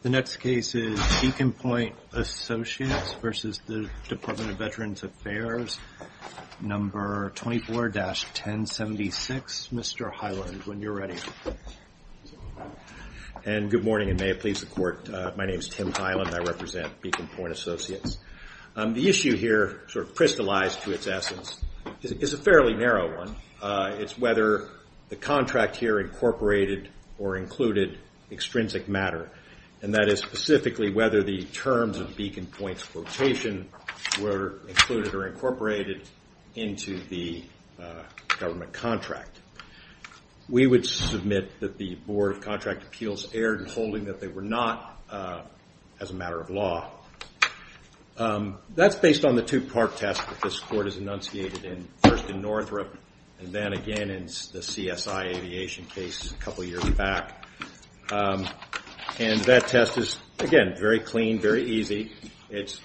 The next case is Beacon Point Associates v. The Department of Veterans Affairs, number 24-1076. Mr. Hyland, when you're ready. And good morning and may it please the court. My name is Tim Hyland. I represent Beacon Point Associates. The issue here sort of crystallized to its essence is a fairly narrow one. It's whether the contract here incorporated or included extrinsic matter. And that is specifically whether the terms of Beacon Point's quotation were included or incorporated into the government contract. We would submit that the Board of Contract Appeals erred in holding that they were not as a matter of law. That's based on the two-part test that this court has enunciated in first in Northrop and then again in the CSI Aviation case a couple years back. And that test is again very clean, very easy. It's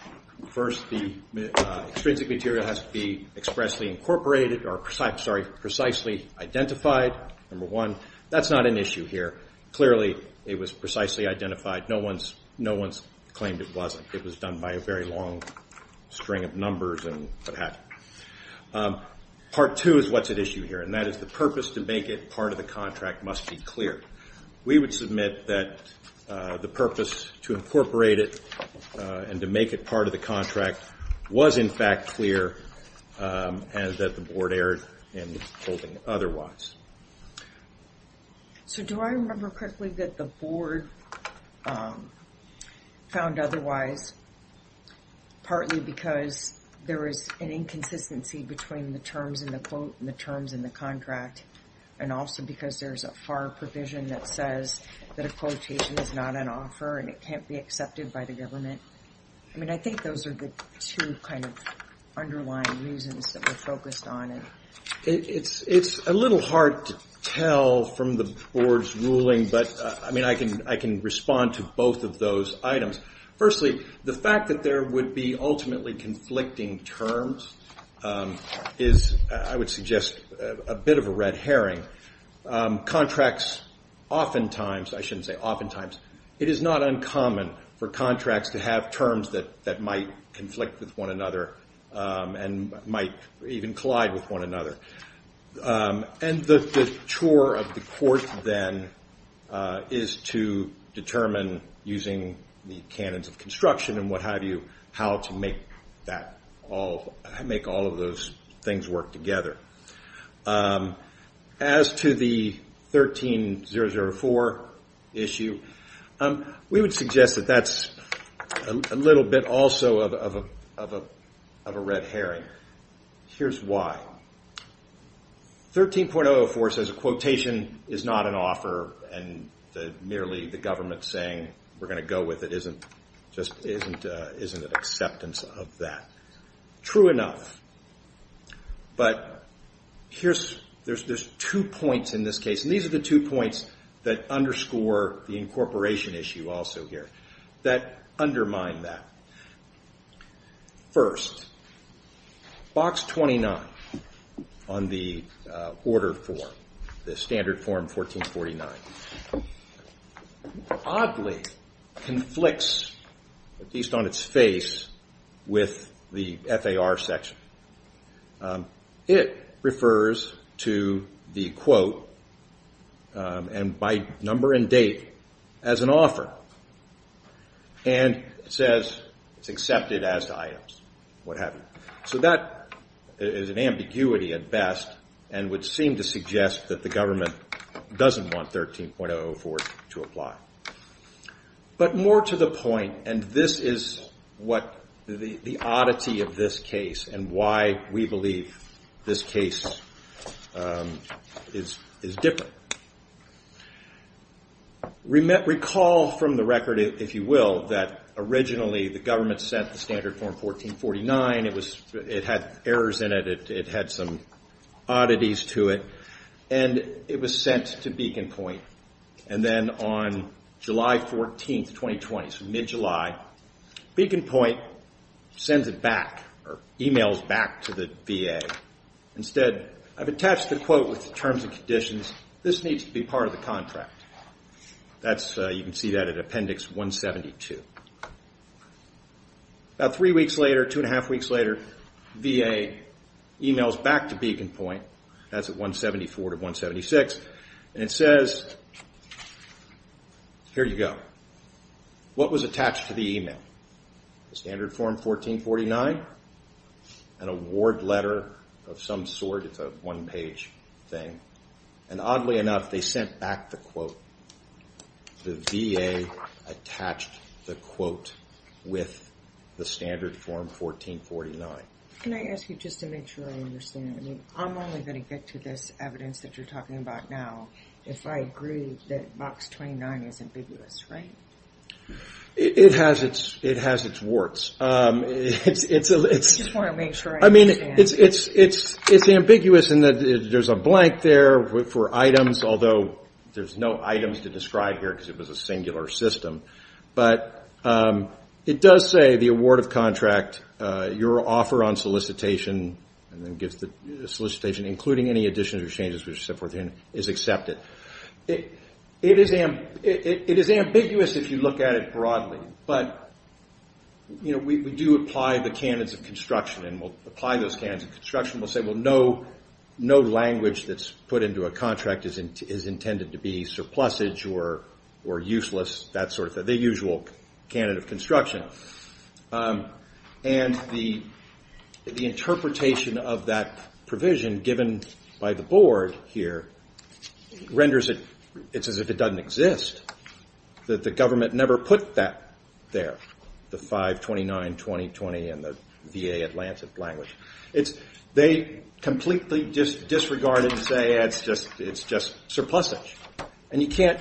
first the extrinsic material has to be expressly incorporated or precisely identified, number one. That's not an issue here. Clearly it was precisely identified. No one's claimed it wasn't. It was done by a very long string of numbers and what have you. Part two is what's at issue here and that is the purpose to make it part of the contract must be clear. We would submit that the purpose to incorporate it and to make it part of the contract was in fact clear and that the board erred in holding otherwise. So do I remember quickly that the board found otherwise partly because there is an inconsistency between the terms in the quote and the terms in the contract and also because there's a FAR provision that says that a quotation is not an offer and it can't be accepted by the government? I mean I think those are the two kind of underlying reasons that we're focused on. It's a little hard to tell from the board's ruling but I mean I can respond to both of those items. Firstly the fact that there would be ultimately conflicting terms is I would suggest a bit of a red herring. Contracts oftentimes, I shouldn't say oftentimes, it is not uncommon for contracts to have terms that that might conflict with one another and might even collide with one another and the chore of the court then is to determine using the canons of and what have you how to make all of those things work together. As to the 13.004 issue, we would suggest that that's a little bit also of a red herring. Here's why. 13.004 says a quotation is not an offer and merely the government saying we're going to go with it isn't just isn't an acceptance of that. True enough but there's two points in this case and these are the two points that underscore the incorporation issue also here that undermine that. First, box 29 on the order form, the standard form 14.49 oddly conflicts at least on its face with the FAR section. It refers to the quote and by number and date as an offer and it says it's accepted as to items what have you. So that is an ambiguity at best and would seem to suggest that the government doesn't want 13.004 to apply. But more to the point and this is what the oddity of this case and why we believe this case is different. Recall from the record if you will that originally the government sent the standard form 14.49. It had errors in it. It had some oddities to it and it was sent to Beacon Point and then on July 14, 2020, so mid-July Beacon Point sends it back or emails back to the VA. Instead I've attached the quote with the terms and conditions. This needs to be part of the contract. You can see that at appendix 172. About three weeks later, two and a half weeks later, VA emails back to Beacon Point. That's at 174 to 176 and it says here you go. What was attached to the email? The standard form 14.49, an award letter of some sort. It's a one page thing and oddly enough they sent back the quote. The VA attached the quote with the standard form 14.49. Can I ask you just to make sure I understand? I mean I'm only going to get to this evidence that you're talking about now if I agree that box 29 is ambiguous, right? It has its warts. I just want to make sure I understand. I mean it's ambiguous in that there's a blank there for items although there's no items to describe here because it was a singular system. It does say the award of contract, your offer on solicitation and then gives the solicitation including any additions or changes which is accepted. It is ambiguous if you look at it broadly but we do apply the candidates of construction and we'll apply those candidates of construction. We'll say no language that's put into a contract is intended to be surplusage or useless. That's sort of the usual candidate of construction and the interpretation of that provision given by the board here renders it as if it doesn't exist. That the government never put that there, the 529-2020 and the VA Atlantic language. They completely disregard it and say it's just surplusage and you can't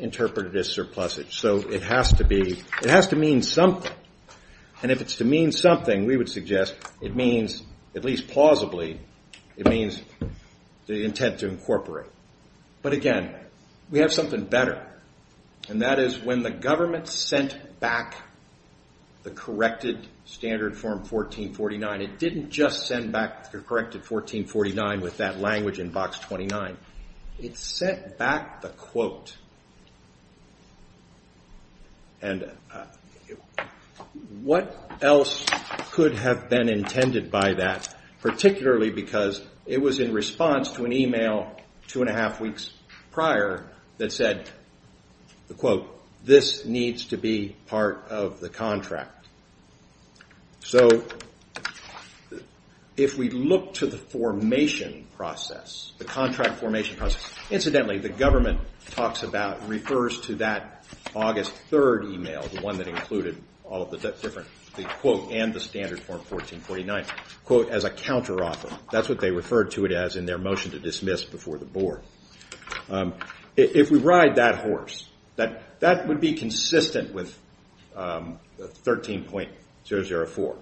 interpret it as surplusage so it has to mean something and if it's to mean something we would suggest it means, at least plausibly, it means the intent to incorporate but again we have something better and that is when the government sent back the corrected standard form 1449 it didn't just send back the corrected 1449 with that language in box 29. It sent back the quote and what else could have been intended by that particularly because it was in response to an email two and a half weeks prior that said the quote this needs to be part of the contract. So if we look to the formation process, the contract formation process, incidentally the government talks about refers to that August 3rd email the one that included all of the different the quote and the standard form 1449 quote as a counteroffer. That's what they referred to it as in their motion to dismiss before the board. If we ride that horse that would be consistent with 13.004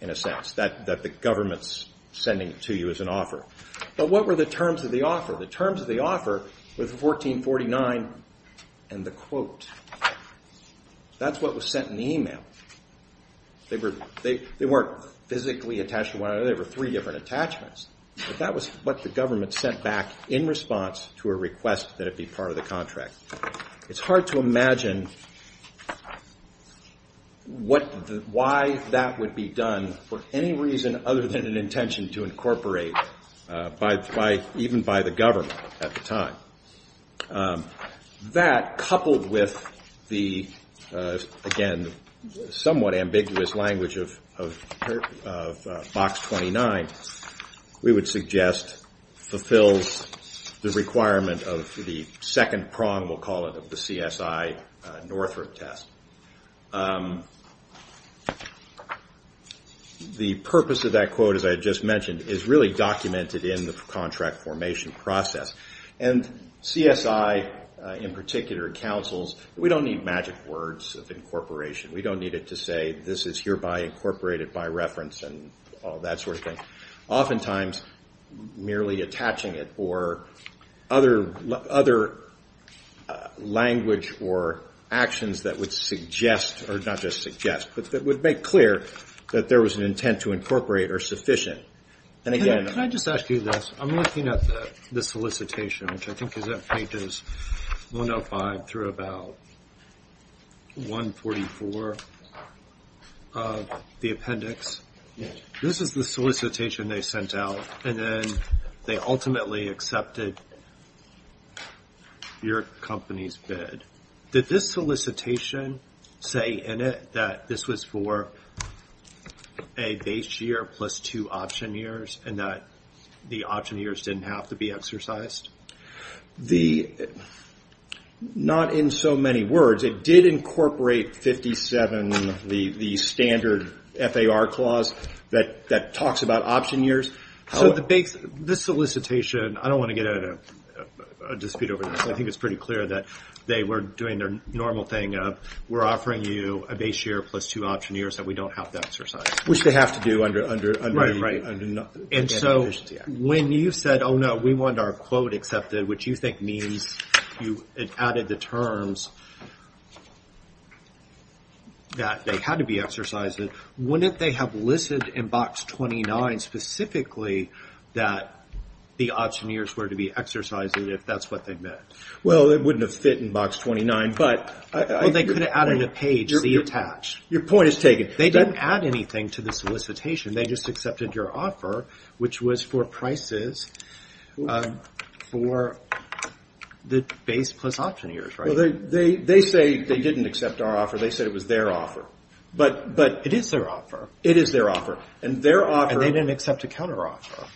in a sense that the government's sending to you as an offer but what were the terms of the offer? The terms of the offer with 1449 and the quote that's what was sent in the email. They weren't physically attached to one another, they were three different attachments but that was what the government sent back in response to a request that it be part of the contract. It's hard to imagine why that would be done for any reason other than an intention to incorporate by even by the government at the time. That coupled with the again somewhat ambiguous language of box 29 we would suggest fulfills the requirement of the second prong we'll call it of the CSI Northrop test. The purpose of that quote as I just mentioned is really documented in the contract formation process and CSI in particular councils we don't need magic words of incorporation. We don't need it to say this is hereby incorporated by reference and all that sort of thing. Oftentimes merely attaching it or other language or actions that would suggest or not just suggest but that would make clear that there was an intent to incorporate or sufficient. Can I just ask you this I'm looking at the solicitation which I think is at pages 105 through about 144 of the appendix. This is the solicitation they sent out and then they ultimately accepted your company's bid. Did this solicitation say in it that this was for a base year plus two option years and that the option years didn't have to be exercised? Not in so many words it did incorporate 57 the standard FAR clause that that talks about option years. So the base this solicitation I don't want to get out of a dispute over this. I think it's pretty clear that they were doing their normal thing of we're offering you a base year plus two option years that we don't have to exercise. Which they have to do under and so when you said oh no we want our quote accepted which you think means you added the terms that they had to be exercised wouldn't they have listed in box 29 specifically that the option years were to be exercised if that's what they meant? Well it wouldn't have fit in box 29 but they could have added a page C attached. Your point is taken. They didn't add anything to the solicitation they just accepted your offer which was for prices for the base plus option years right? Well they say they didn't accept our offer they said it was their offer. But it is their offer. It is their offer and their offer. And they didn't accept a counter offer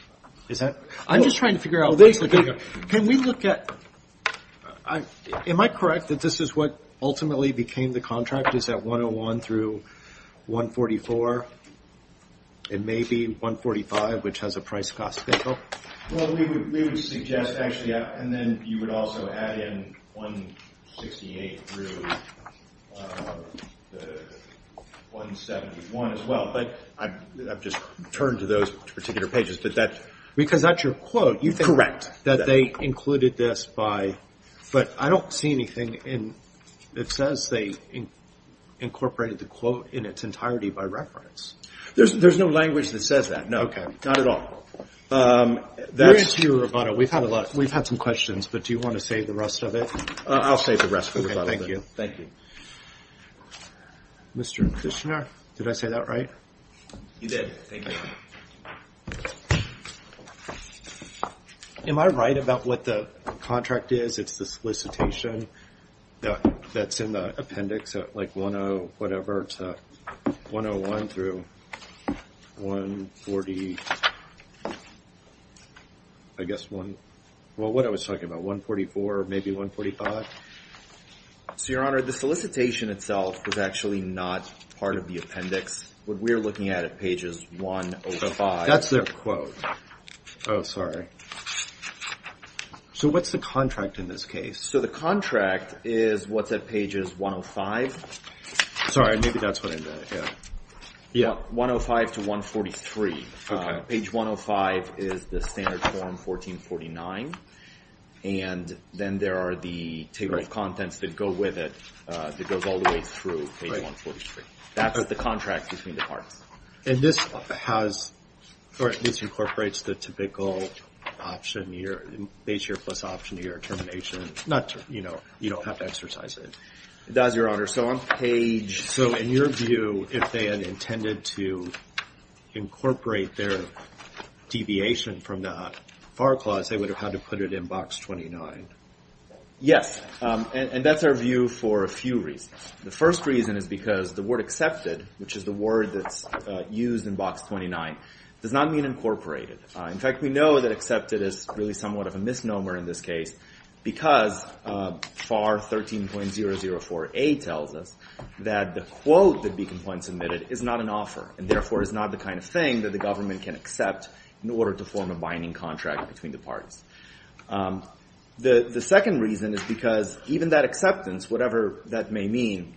is that? I'm just trying to figure out. Can we look at am I correct that this is what ultimately became the contract is that 101 through 144 and maybe 145 which has a price cost figure? Well we would suggest actually and then you would also add in 168 through 171 as well but I've just turned to those particular pages but that. Because that's your quote. Correct. That they included this by but I don't see anything in it says they incorporated the quote in its entirety by reference. There's no language that says that. No. Okay not at all. Where is your rebuttal? We've had a lot we've had some questions but do you want to say the rest of it? I'll say the rest of it. Thank you. Mr. Kushner did I say that right? You did. Thank you. Am I right about what the contract is? It's the solicitation that's in the appendix like 10 whatever to 101 through 140 I guess one well what I was talking about 144 or maybe 145? So your honor the solicitation itself was actually not part of the appendix. What we're looking at at page is 105. That's their quote. Oh sorry. So what's the contract in this case? So the contract is what's at pages 105. Sorry maybe that's what I meant. Yeah 105 to 143. Page 105 is the standard form 1449 and then there are the table of contents that go with it that goes all the way through page 143. That's the contract between the parts. And this has or at least incorporates the typical option your base year plus option year termination. Not you know you don't have to exercise it. It does your honor so on page so in your view if they had intended to incorporate their deviation from that FAR clause they would have had to put it in box 29. Yes and that's our view for a few reasons. The first reason is because the word that's used in box 29 does not mean incorporated. In fact we know that accepted is really somewhat of a misnomer in this case because FAR 13.004a tells us that the quote that be complained submitted is not an offer and therefore is not the kind of thing that the government can accept in order to form a binding contract between the parts. The second reason is because even that acceptance whatever that may mean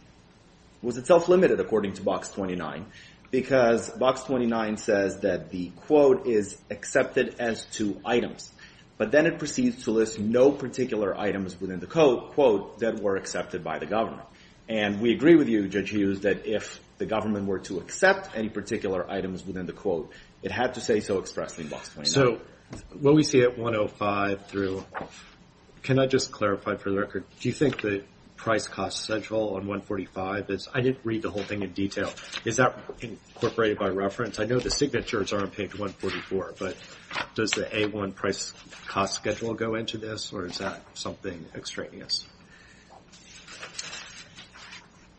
was itself limited according to box 29 because box 29 says that the quote is accepted as two items but then it proceeds to list no particular items within the quote that were accepted by the government. And we agree with you Judge Hughes that if the government were to accept any particular items within the quote it had to say so expressly. So what we see at 105 through can I just clarify for the record do you think that price cost central on 145 is I didn't read the whole thing in detail is that incorporated by reference? I know the signatures are on page 144 but does the A1 price cost schedule go into this or is that something extraneous?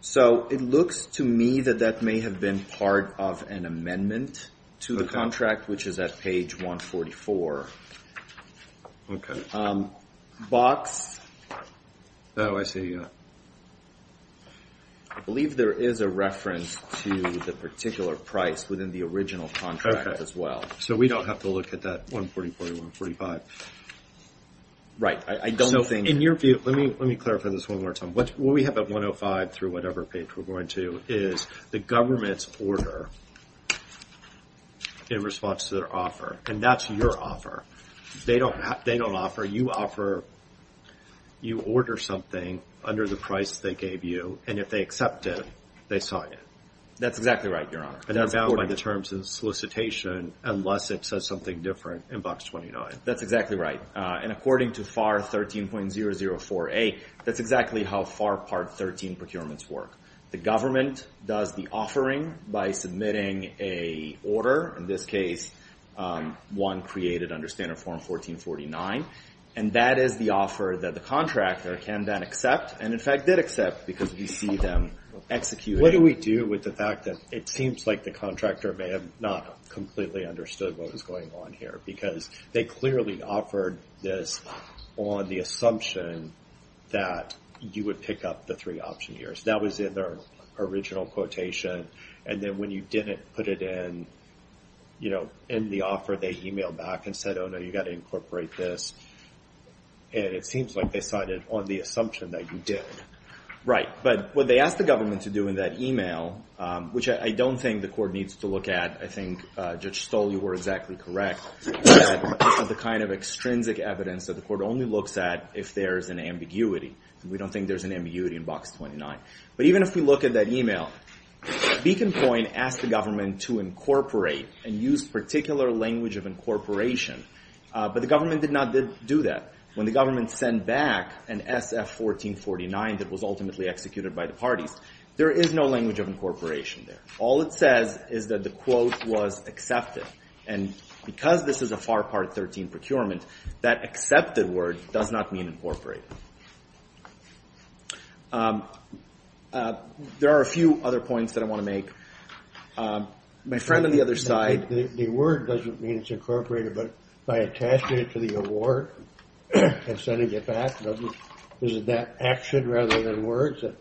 So it looks to me that that may have been part of an amendment to the contract which is at page 144. Okay box oh I see that. I believe there is a reference to the particular price within the original contract as well. So we don't have to look at that 140, 140, 145. Right I don't think in your view let me let me clarify this one more time what we have at 105 through whatever page we're going to is the government's order in response to their offer and that's your offer they don't they don't offer you offer you order something under the price they gave you and if they accept it they sign it. That's exactly right your honor. And they're bound by the terms of solicitation unless it says something different in box 29. That's exactly right and according to FAR 13.004a that's exactly how FAR part 13 procurements work. The government does the offering by submitting a order in this case one created under standard form 1449 and that is the offer that the contractor can then accept and in fact did accept because we see them execute. What do we do with the fact that it seems like the contractor may have not completely understood what was going on here because they clearly offered this on the assumption that you would pick up the three option years. That was in their original quotation and then when you didn't put it in you know in the offer they emailed back and said oh no you got to incorporate this and it seems like they signed it on the assumption that you did. Right but what they asked the government to do in that email which I don't think the court needs to look at I think Judge Stoll you were exactly correct. The kind of extrinsic evidence that the court only looks at if there's an ambiguity. We don't think there's an ambiguity in box 29 but even if we look at that email Beacon Point asked the government to incorporate and use particular language of incorporation but the government did not do that. When the government sent back an SF-1449 that was ultimately executed by the parties there is no language of incorporation there. All it says is that the quote was accepted and because this is a FAR Part 13 procurement that accepted word does not mean incorporated. There are a few other points that I want to make. My friend on the other side the word doesn't mean it's incorporated but by attaching it to the award and sending it back doesn't is it that action rather than words that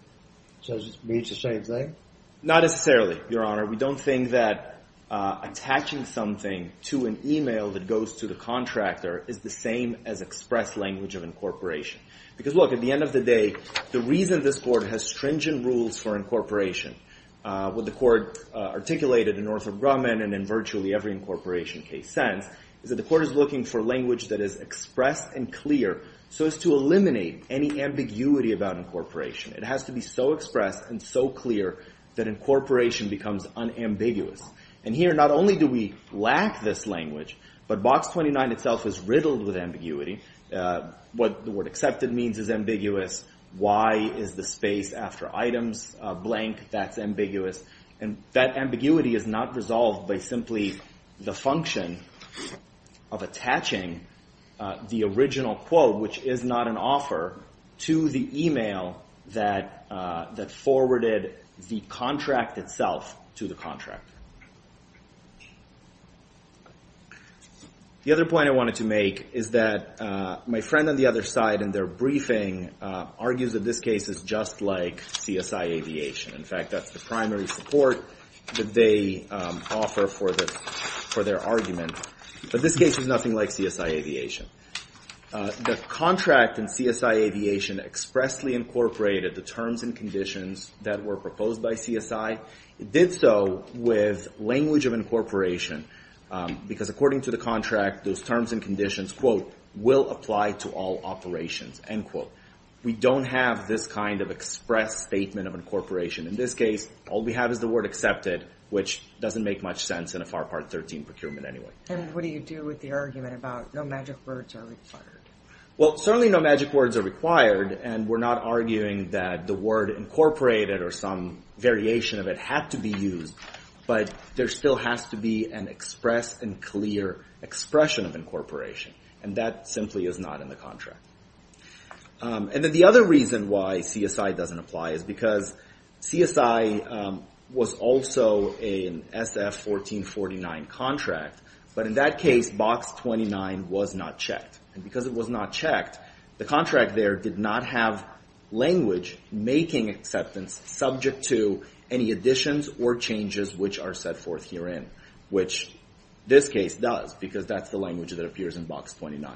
says it means the same thing? Not necessarily your honor we don't think that attaching something to an email that goes to the contractor is the same as express language of incorporation because look at the end of the day the reason this court has stringent rules for incorporation what the court articulated in Arthur Grumman and in virtually every incorporation case sense is that the court is looking for language that is expressed and clear so as to eliminate any ambiguity about incorporation. It has to be so expressed and so clear that incorporation becomes unambiguous and here not only do we lack this language but box 29 itself is riddled with ambiguity what the word accepted means is ambiguous why is the space after items blank that's ambiguous and that ambiguity is not resolved by simply the function of attaching the original quote which is not an offer to the email that forwarded the contract itself to the contractor. The other point I wanted to make is that my friend on the other side in their case is just like CSI Aviation in fact that's the primary support that they offer for this for their argument but this case is nothing like CSI Aviation. The contract in CSI Aviation expressly incorporated the terms and conditions that were proposed by CSI. It did so with language of incorporation because according to the contract those terms and conditions quote will apply to all operations end quote. We don't have this kind of express statement of incorporation in this case all we have is the word accepted which doesn't make much sense in a FAR part 13 procurement anyway. And what do you do with the argument about no magic words are required? Well certainly no magic words are required and we're not arguing that the word incorporated or some variation of it had to be used but there still has to be an express and clear expression of incorporation and that simply is not in the contract. And then the other reason why CSI doesn't apply is because CSI was also an SF 1449 contract but in that case box 29 was not checked and because it was not checked the contract there did not have language making acceptance subject to any additions or changes which are set forth herein which this case does because that's the language that appears in box 29.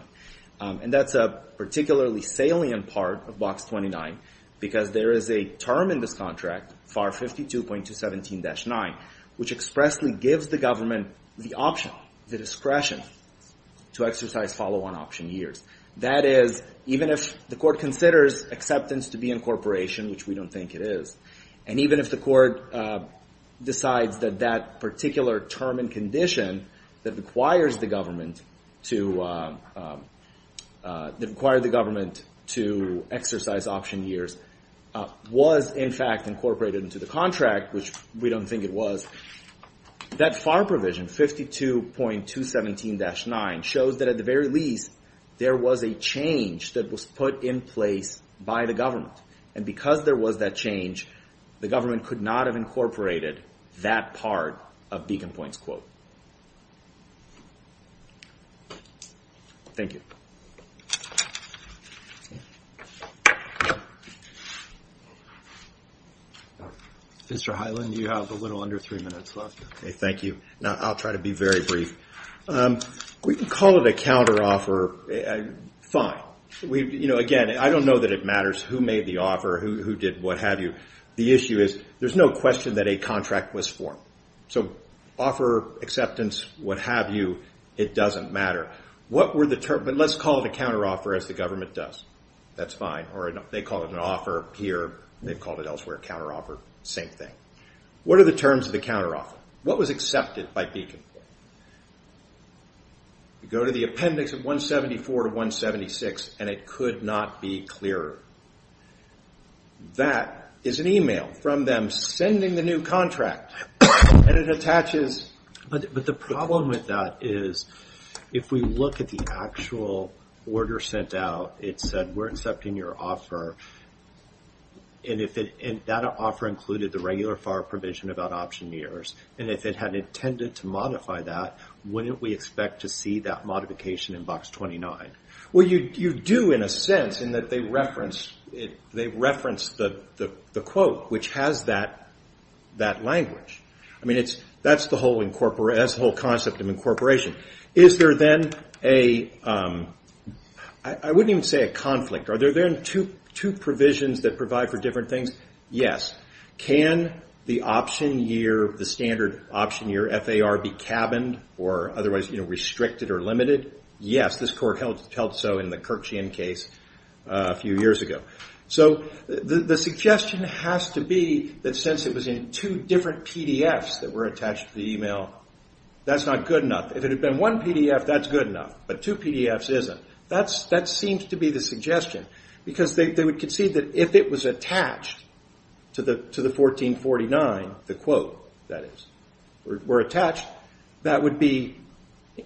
And that's a particularly salient part of box 29 because there is a term in this contract FAR 52.217-9 which expressly gives the government the option the discretion to exercise follow-on option years that is even if the court considers acceptance to be incorporation which we don't think it is and even if the court decides that that particular term and condition that requires the government to that required the government to exercise option years was in fact incorporated into the contract which we don't think it was that FAR provision 52.217-9 shows that at the very least there was a change that was put in place by the government and because there was that change the government could not have incorporated that part of Beacon Point's quote. Thank you. Mr. Hyland you have a little under three minutes left. Okay thank you now I'll try to be very brief. We can call it a counter offer fine we you know again I don't know that it matters who made the offer who did what have you the issue is there's no question that a contract was formed so offer acceptance what have you it doesn't matter what were the terms but let's call it a counter offer as the government does that's fine or they call it an offer here they've called it elsewhere counter offer same thing what are the terms of the counter offer what was accepted by Beacon Point? You go to the appendix of 174 to 176 and it could not be clearer. That is an email from them sending the new contract and it attaches. But the problem with that is if we look at the actual order sent out it said we're accepting your offer and if it and that offer included the regular FAR provision about option years and if it had intended to modify that wouldn't we expect to see that modification in box 29? Well you you do in a sense in that they reference it they reference the the quote which has that that language. I mean it's that's the whole incorporate as whole concept of incorporation. Is there then a I wouldn't even say a conflict are there then two two provisions that provide for different things? Yes. Can the option year the standard option year FAR be cabined or otherwise you know restricted or Yes this court held so in the Kirkshian case a few years ago. So the suggestion has to be that since it was in two different PDFs that were attached to the email that's not good enough. If it had been one PDF that's good enough but two PDFs isn't. That's that seems to be the suggestion because they would concede that if it was attached to the to the 1449 the quote that is were attached that would be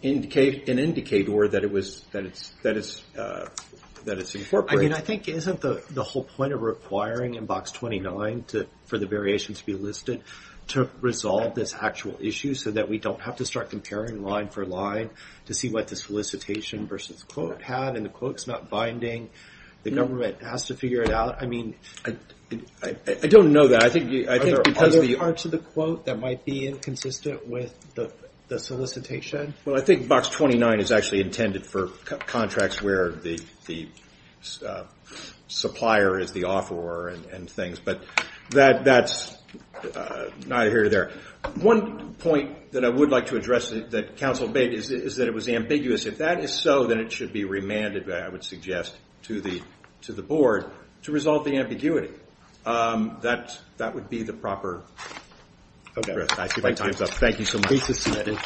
indicate an indicator that it was that it's that is that it's incorporated. I mean I think isn't the the whole point of requiring in box 29 to for the variation to be listed to resolve this actual issue so that we don't have to start comparing line for line to see what the solicitation versus quote had and the quote's not binding the government has to figure it out. I mean I don't know that I think I think because of the parts of the quote that might be inconsistent with the the solicitation. Well I think box 29 is actually intended for contracts where the the supplier is the offeror and things but that that's neither here nor there. One point that I would like to address that counsel made is is that it was ambiguous. If that is so then it should be remanded I would suggest to the to the board to resolve the ambiguity. That would be the proper address. Thank you so much.